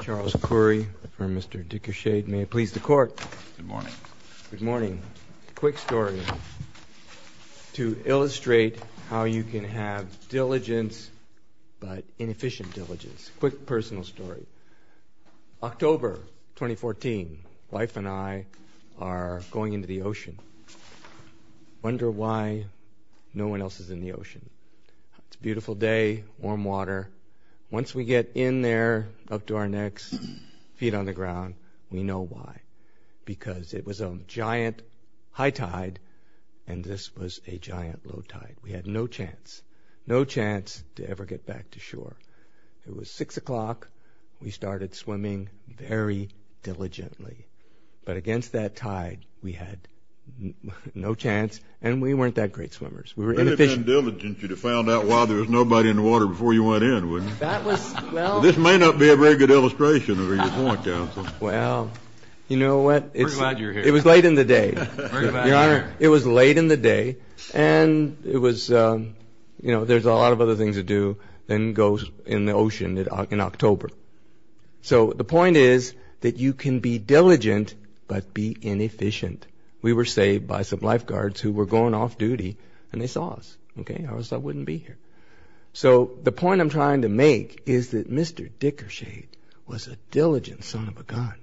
Charles Currie for Mr. Dickershaid. May it please the court. Good morning. Good morning. Quick story to illustrate how you can have diligence but inefficient diligence. Quick personal story. October 2014. Wife and I are going into the ocean. Wonder why no one else is in the ocean. It's a beautiful day, warm water. Once we get in there up to our necks, feet on the ground, we know why. Because it was a giant high tide and this was a giant low tide. We had no chance, no chance to ever get back to shore. It was 6 o'clock. We started swimming very diligently. But against that tide we had no chance and we weren't that great swimmers. It would have been diligent of you to find out why there was nobody in the water before you went in, wouldn't it? This may not be a very good illustration of your point, counsel. Well, you know what? It was late in the day. Your Honor, it was late in the day and it was, you know, there's a lot of other things to do than go in the ocean in October. So the point is that you can be diligent but be inefficient. We were saved by some lifeguards who were going off duty and they saw us, okay? Otherwise I wouldn't be here. So the point I'm trying to make is that Mr. Dickershade was a diligent son of a gun.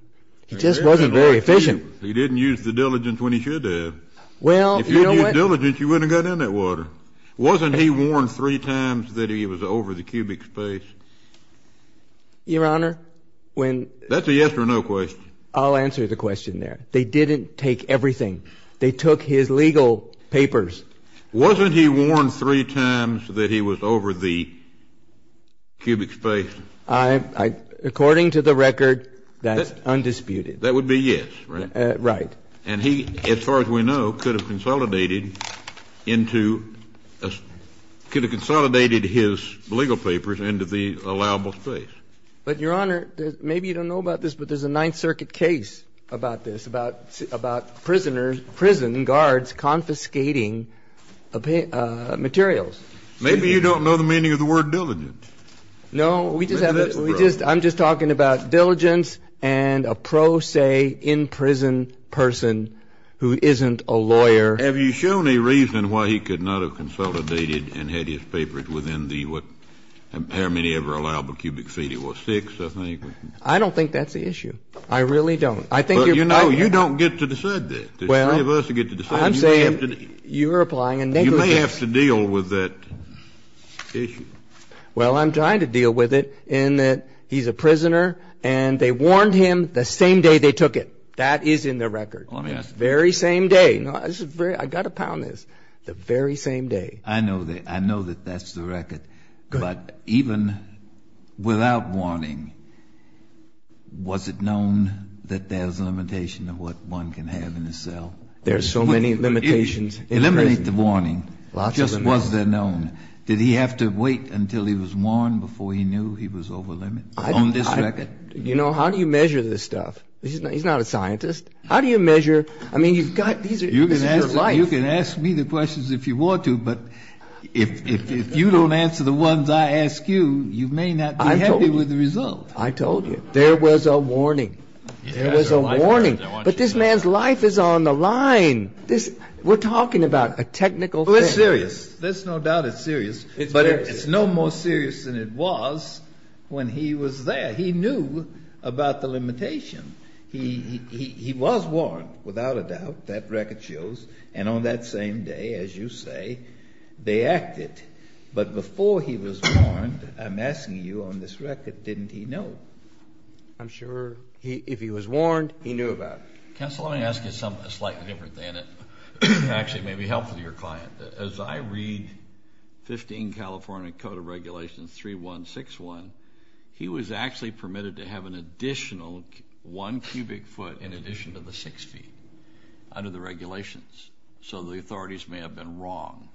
He just wasn't very efficient. He didn't use the diligence when he should have. Well, you know what? If you'd used diligence you wouldn't have got in that water. Wasn't he warned three times that he was over the cubic space? Your Honor, when- That's a yes or no question. I'll answer the question there. They didn't take everything. They took his legal papers. Wasn't he warned three times that he was over the cubic space? According to the record, that's undisputed. That would be yes, right? Right. And he, as far as we know, could have consolidated his legal papers into the allowable space. But, Your Honor, maybe you don't know about this, but there's a Ninth Circuit case about this, about prisoners, prison guards confiscating materials. Maybe you don't know the meaning of the word diligent. No, we just have- Maybe that's the problem. I'm just talking about diligence and a pro se in prison person who isn't a lawyer. Have you shown any reason why he could not have consolidated and had his papers within the, what, how many ever allowable cubic feet? It was six, I think. I don't think that's the issue. I really don't. I think you're- But, you know, you don't get to decide that. Well- There's three of us who get to decide. I'm saying- You're applying a negligence- You may have to deal with that issue. Well, I'm trying to deal with it in that he's a prisoner and they warned him the same day they took it. That is in the record. Let me ask- The very same day. No, this is very- I've got to pound this. The very same day. I know that that's the record. But even without warning, was it known that there's a limitation of what one can have in a cell? There are so many limitations in prison. Eliminate the warning. Just was there known? Did he have to wait until he was warned before he knew he was overlimit on this record? You know, how do you measure this stuff? He's not a scientist. How do you measure- I mean, you've got- This is your life. You can ask me the questions if you want to, but if you don't answer the ones I ask you, you may not be happy with the result. I told you. There was a warning. There was a warning. But this man's life is on the line. We're talking about a technical thing. Well, it's serious. There's no doubt it's serious. But it's no more serious than it was when he was there. He knew about the limitation. He was warned, without a doubt. That record shows. And on that same day, as you say, they acted. But before he was warned, I'm asking you, on this record, didn't he know? I'm sure if he was warned, he knew about it. Counsel, let me ask you something slightly different than it actually may be helpful to your client. As I read 15 California Code of Regulations 3161, he was actually permitted to have an additional one cubic foot in addition to the six feet under the regulations. So the authorities may have been wrong.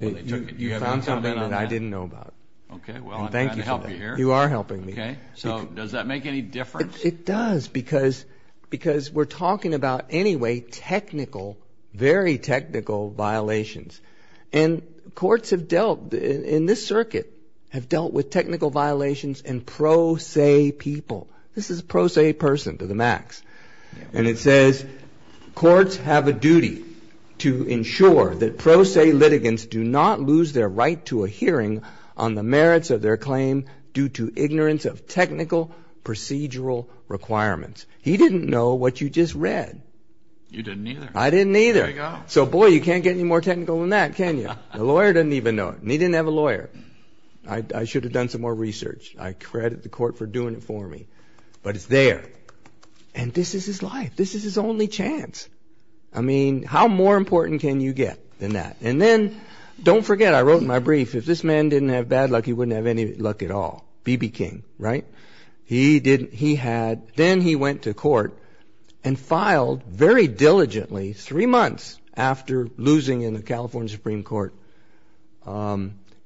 You found something that I didn't know about. Okay. Well, I'm trying to help you here. You are helping me. Okay. So does that make any difference? It does. Because we're talking about anyway technical, very technical violations. And courts have dealt, in this circuit, have dealt with technical violations and pro se people. This is a pro se person to the max. And it says courts have a duty to ensure that pro se litigants do not lose their right to a hearing on the merits of their claim due to ignorance of technical procedural requirements. He didn't know what you just read. You didn't either. I didn't either. There you go. So, boy, you can't get any more technical than that, can you? The lawyer didn't even know it. And he didn't have a lawyer. I should have done some more research. I credit the court for doing it for me. But it's there. And this is his life. This is his only chance. I mean, how more important can you get than that? And then don't forget, I wrote in my brief, if this man didn't have bad luck, he wouldn't have any luck at all. B.B. King, right? He didn't. He had. Then he went to court and filed very diligently, three months after losing in the California Supreme Court,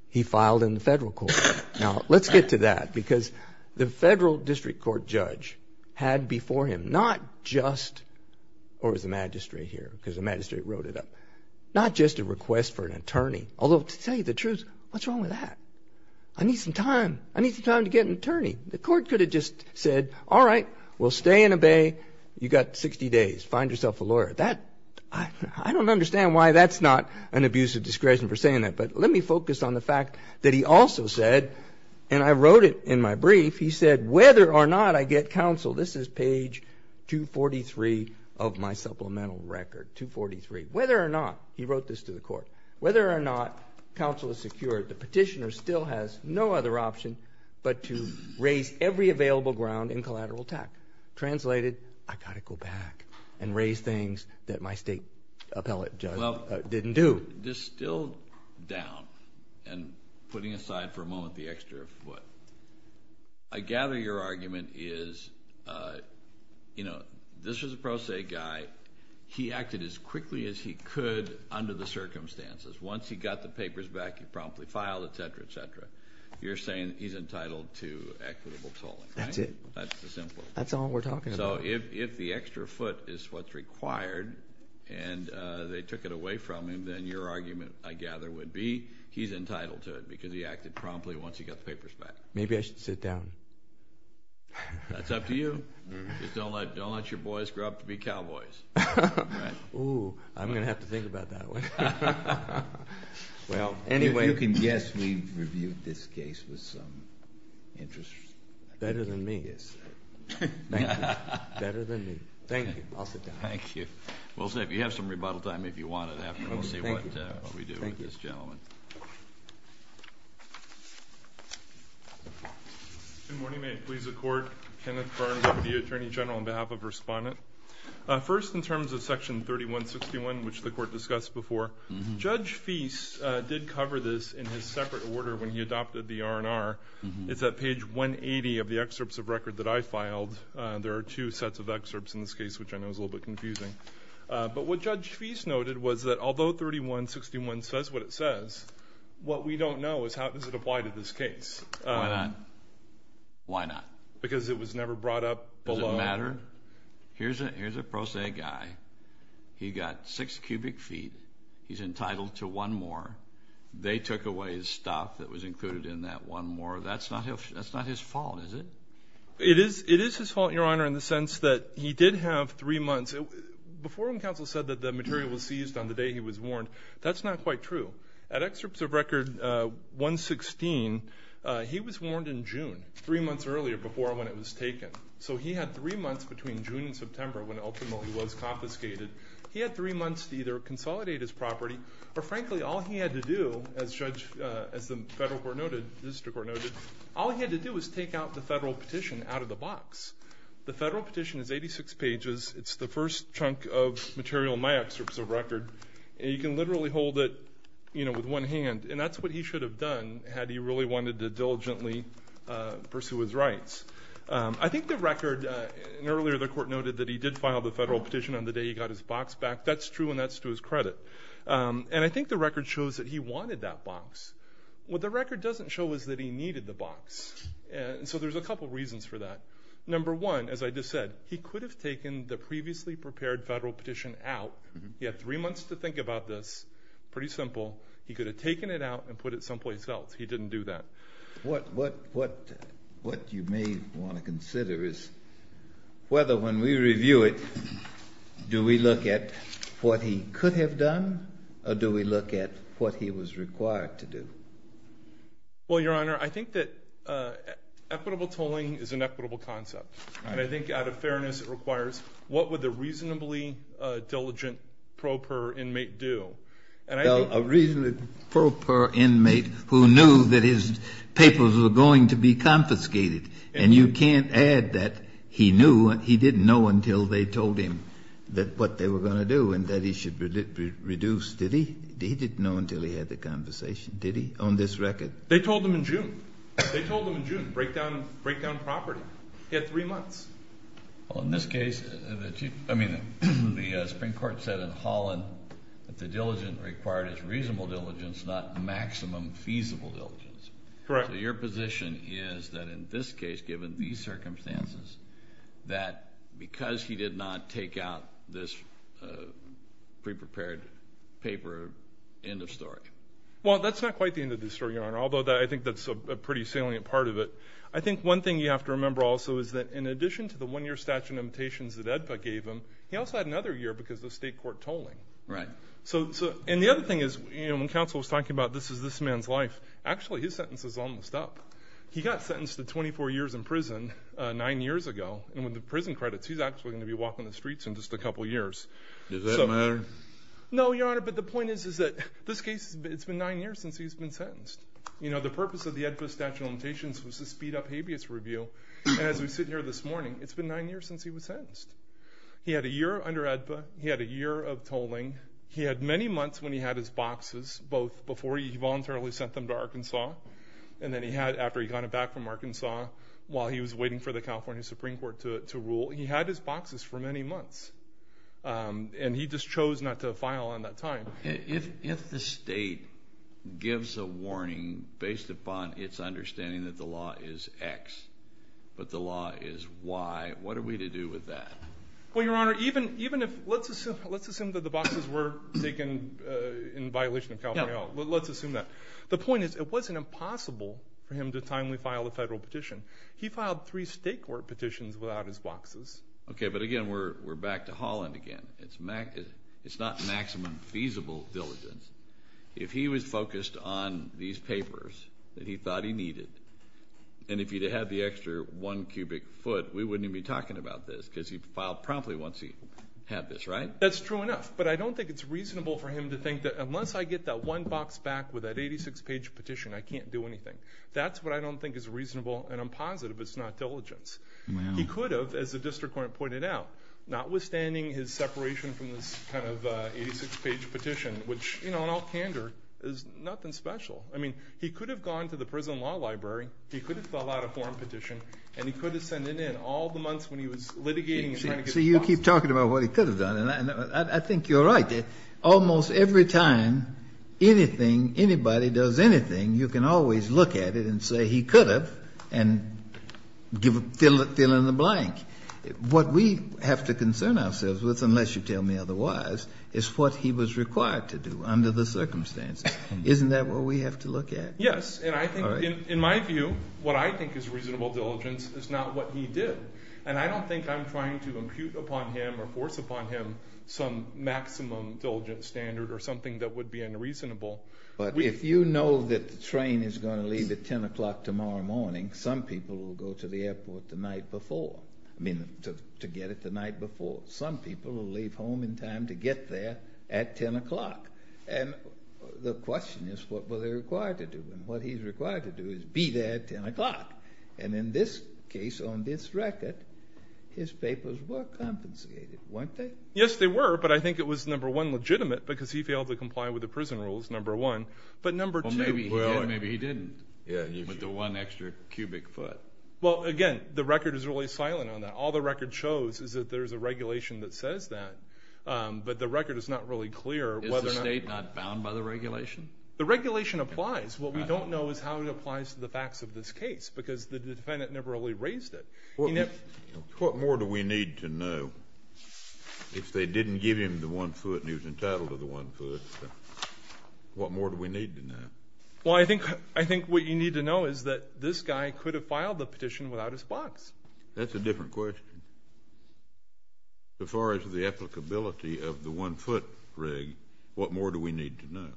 he filed in the federal court. Now, let's get to that because the federal district court judge had before him not just or the magistrate here because the magistrate wrote it up, not just a request for an attorney. Although, to tell you the truth, what's wrong with that? I need some time. I need some time to get an attorney. The court could have just said, all right, we'll stay and obey. You've got 60 days. Find yourself a lawyer. I don't understand why that's not an abuse of discretion for saying that. But let me focus on the fact that he also said, and I wrote it in my brief, he said, whether or not I get counsel, this is page 243 of my supplemental record, 243. Whether or not, he wrote this to the court, whether or not counsel is secured, the petitioner still has no other option. But to raise every available ground in collateral attack. Translated, I've got to go back and raise things that my state appellate judge didn't do. Still down and putting aside for a moment the extra foot. I gather your argument is, you know, this was a pro se guy. He acted as quickly as he could under the circumstances. Once he got the papers back, he promptly filed, et cetera, et cetera. You're saying he's entitled to equitable tolling. That's it. That's the simple. That's all we're talking about. So if the extra foot is what's required and they took it away from him, then your argument, I gather, would be he's entitled to it because he acted promptly once he got the papers back. Maybe I should sit down. That's up to you. Just don't let your boys grow up to be cowboys. Oh, I'm going to have to think about that one. Well, anyway. If you can guess, we've reviewed this case with some interest. Better than me. Yes, sir. Thank you. Better than me. Thank you. I'll sit down. Thank you. We'll see if you have some rebuttal time if you want it. We'll see what we do with this gentleman. Good morning. May it please the Court. Kenneth Burns, Deputy Attorney General on behalf of Respondent. First, in terms of Section 3161, which the Court discussed before, Judge Feist did cover this in his separate order when he adopted the R&R. It's at page 180 of the excerpts of record that I filed. There are two sets of excerpts in this case, which I know is a little bit confusing. But what Judge Feist noted was that although 3161 says what it says, what we don't know is how does it apply to this case. Why not? Why not? Because it was never brought up below. Does it matter? Here's a pro se guy. He got six cubic feet. He's entitled to one more. They took away his stuff that was included in that one more. That's not his fault, is it? It is his fault, Your Honor, in the sense that he did have three months. Before when counsel said that the material was seized on the day he was warned, that's not quite true. At excerpts of record 116, he was warned in June, three months earlier before when it was taken. So he had three months between June and September when it ultimately was confiscated. He had three months to either consolidate his property or, frankly, all he had to do, as the federal court noted, the district court noted, all he had to do was take out the federal petition out of the box. The federal petition is 86 pages. It's the first chunk of material in my excerpts of record. You can literally hold it with one hand. And that's what he should have done had he really wanted to diligently pursue his rights. I think the record, and earlier the court noted that he did file the federal petition on the day he got his box back. That's true, and that's to his credit. And I think the record shows that he wanted that box. What the record doesn't show is that he needed the box. And so there's a couple reasons for that. Number one, as I just said, he could have taken the previously prepared federal petition out. He had three months to think about this. Pretty simple. He could have taken it out and put it someplace else. He didn't do that. What you may want to consider is whether when we review it, do we look at what he could have done or do we look at what he was required to do? Well, Your Honor, I think that equitable tolling is an equitable concept. And I think out of fairness it requires what would a reasonably diligent pro per inmate do? A reasonably pro per inmate who knew that his papers were going to be confiscated. And you can't add that he knew and he didn't know until they told him what they were going to do and that he should reduce. Did he? He didn't know until he had the conversation, did he, on this record? They told him in June. They told him in June, break down property. He had three months. Well, in this case, I mean, the Supreme Court said in Holland that the diligent required is reasonable diligence, not maximum feasible diligence. Correct. So your position is that in this case, given these circumstances, that because he did not take out this pre-prepared paper, end of story? Well, that's not quite the end of the story, Your Honor, although I think that's a pretty salient part of it. I think one thing you have to remember also is that in addition to the one-year statute of limitations that AEDPA gave him, he also had another year because of the state court tolling. Right. And the other thing is when counsel was talking about this is this man's life, actually his sentence is almost up. He got sentenced to 24 years in prison nine years ago, and with the prison credits he's actually going to be walking the streets in just a couple years. Does that matter? No, Your Honor, but the point is that this case, it's been nine years since he's been sentenced. You know, the purpose of the AEDPA statute of limitations was to speed up habeas review, and as we sit here this morning, it's been nine years since he was sentenced. He had a year under AEDPA. He had a year of tolling. He had many months when he had his boxes, both before he voluntarily sent them to Arkansas and then he had after he got it back from Arkansas while he was waiting for the California Supreme Court to rule. He had his boxes for many months, and he just chose not to file on that time. If the state gives a warning based upon its understanding that the law is X but the law is Y, what are we to do with that? Well, Your Honor, even if let's assume that the boxes were taken in violation of California law. Let's assume that. The point is it wasn't impossible for him to timely file a federal petition. He filed three state court petitions without his boxes. Okay, but again, we're back to Holland again. It's not maximum feasible diligence. If he was focused on these papers that he thought he needed, and if he had the extra one cubic foot, we wouldn't even be talking about this because he filed promptly once he had this, right? That's true enough, but I don't think it's reasonable for him to think that unless I get that one box back with that 86-page petition, I can't do anything. That's what I don't think is reasonable, and I'm positive it's not diligence. He could have, as the district court pointed out, notwithstanding his separation from this kind of 86-page petition, which in all candor is nothing special. I mean, he could have gone to the prison law library, he could have filled out a form petition, and he could have sent it in all the months when he was litigating and trying to get the boxes. See, you keep talking about what he could have done, and I think you're right. Almost every time anything, anybody does anything, you can always look at it and say he could have and fill in the blank. What we have to concern ourselves with, unless you tell me otherwise, is what he was required to do under the circumstances. Isn't that what we have to look at? Yes, and I think, in my view, what I think is reasonable diligence is not what he did, and I don't think I'm trying to impute upon him or force upon him some maximum diligence standard or something that would be unreasonable. But if you know that the train is going to leave at 10 o'clock tomorrow morning, some people will go to the airport the night before, I mean, to get it the night before. Some people will leave home in time to get there at 10 o'clock. And the question is what were they required to do, and what he's required to do is be there at 10 o'clock. And in this case, on this record, his papers were compensated, weren't they? Yes, they were, but I think it was, number one, legitimate, because he failed to comply with the prison rules, number one. But number two. Well, maybe he did, maybe he didn't, with the one extra cubic foot. Well, again, the record is really silent on that. All the record shows is that there's a regulation that says that, but the record is not really clear whether or not. Is the state not bound by the regulation? The regulation applies. What we don't know is how it applies to the facts of this case, because the defendant never really raised it. What more do we need to know? If they didn't give him the one foot and he was entitled to the one foot, what more do we need to know? Well, I think what you need to know is that this guy could have filed the petition without his box. That's a different question. As far as the applicability of the one foot rig, what more do we need to know?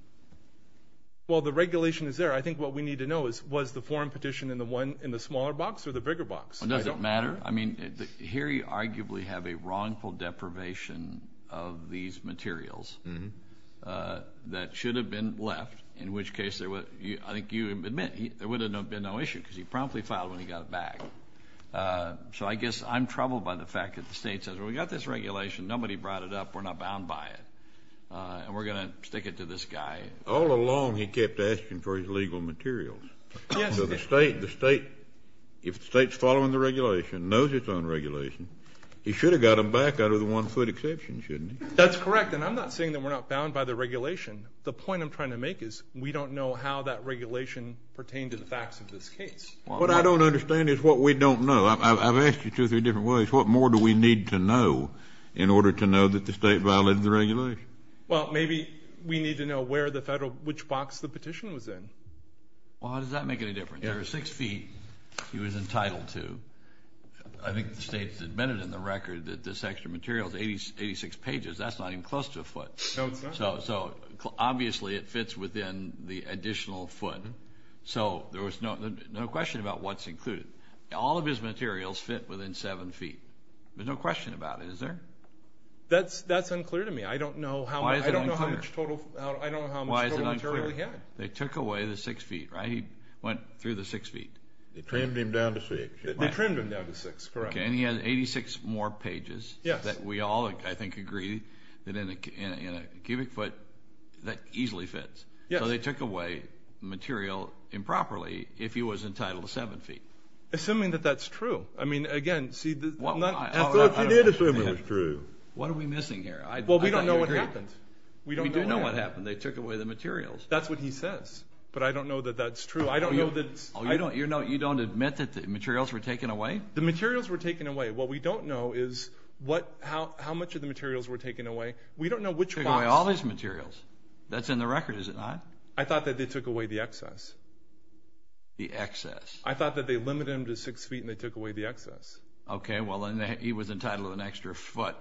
Well, the regulation is there. I think what we need to know is was the foreign petition in the smaller box or the bigger box? Well, does it matter? I mean, here you arguably have a wrongful deprivation of these materials that should have been left, in which case I think you admit there would have been no issue because he promptly filed when he got it back. So I guess I'm troubled by the fact that the state says, well, we've got this regulation. Nobody brought it up. We're not bound by it, and we're going to stick it to this guy. All along he kept asking for his legal materials. So the state, if the state's following the regulation, knows it's unregulated, he should have got them back out of the one foot exception, shouldn't he? That's correct, and I'm not saying that we're not bound by the regulation. The point I'm trying to make is we don't know how that regulation pertained to the facts of this case. What I don't understand is what we don't know. I've asked you two or three different ways. What more do we need to know in order to know that the state violated the regulation? Well, maybe we need to know where the federal, which box the petition was in. Well, how does that make any difference? There were six feet he was entitled to. I think the state's admitted in the record that this extra material is 86 pages. That's not even close to a foot. No, it's not. So obviously it fits within the additional foot. So there was no question about what's included. All of his materials fit within seven feet. There's no question about it, is there? That's unclear to me. I don't know how much total material he had. They took away the six feet, right? He went through the six feet. They trimmed him down to six. They trimmed him down to six, correct. And he had 86 more pages that we all, I think, agree that in a cubic foot that easily fits. So they took away material improperly if he was entitled to seven feet. Assuming that that's true. I mean, again, see, I thought he did assume it was true. What are we missing here? Well, we don't know what happened. We do know what happened. They took away the materials. That's what he says. But I don't know that that's true. You don't admit that the materials were taken away? The materials were taken away. What we don't know is how much of the materials were taken away. We don't know which parts. They took away all his materials. That's in the record, is it not? I thought that they took away the excess. The excess. I thought that they limited him to six feet and they took away the excess. Okay, well, then he was entitled to an extra foot.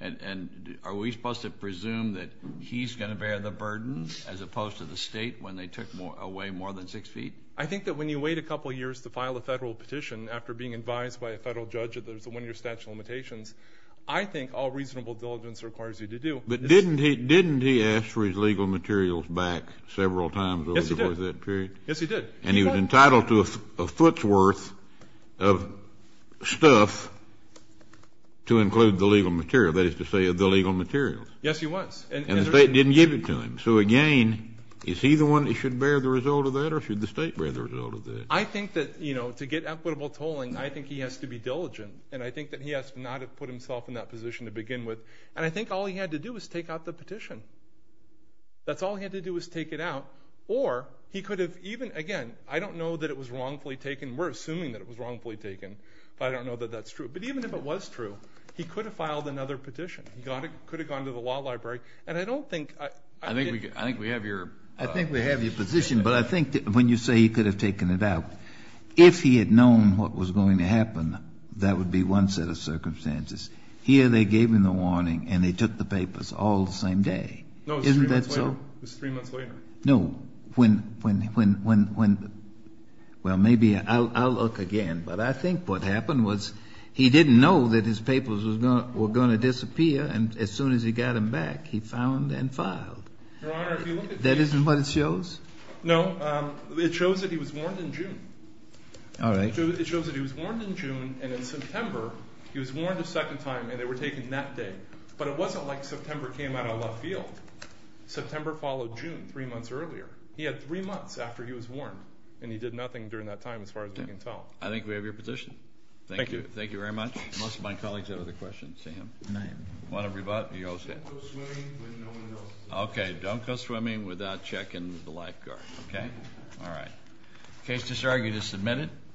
And are we supposed to presume that he's going to bear the burden, as opposed to the State, when they took away more than six feet? I think that when you wait a couple of years to file a Federal petition after being advised by a Federal judge that there's a one-year statute of limitations, I think all reasonable diligence requires you to do. But didn't he ask for his legal materials back several times over that period? Yes, he did. And he was entitled to a foot's worth of stuff to include the legal material, that is to say the legal materials. Yes, he was. And the State didn't give it to him. So, again, is he the one that should bear the result of that or should the State bear the result of that? I think that, you know, to get equitable tolling, I think he has to be diligent. And I think that he has to know how to put himself in that position to begin with. And I think all he had to do was take out the petition. That's all he had to do was take it out. Or he could have even, again, I don't know that it was wrongfully taken. We're assuming that it was wrongfully taken, but I don't know that that's true. But even if it was true, he could have filed another petition. He could have gone to the law library. And I don't think – I think we have your – I think we have your position. But I think that when you say he could have taken it out, if he had known what was going to happen, that would be one set of circumstances. Here they gave him the warning and they took the papers all the same day. Isn't that so? No, it was three months later. No. When – well, maybe I'll look again. But I think what happened was he didn't know that his papers were going to disappear. And as soon as he got them back, he found and filed. Your Honor, if you look at the – That isn't what it shows? No. It shows that he was warned in June. All right. It shows that he was warned in June, and in September he was warned a second time and they were taking that day. But it wasn't like September came out of left field. September followed June three months earlier. He had three months after he was warned, and he did nothing during that time as far as we can tell. I think we have your position. Thank you. Thank you very much. Most of my colleagues have other questions. Sam? No. Want to – Don't go swimming with no one else. Okay. Don't go swimming without checking the lifeguard. Okay? All right. Case disargued is submitted.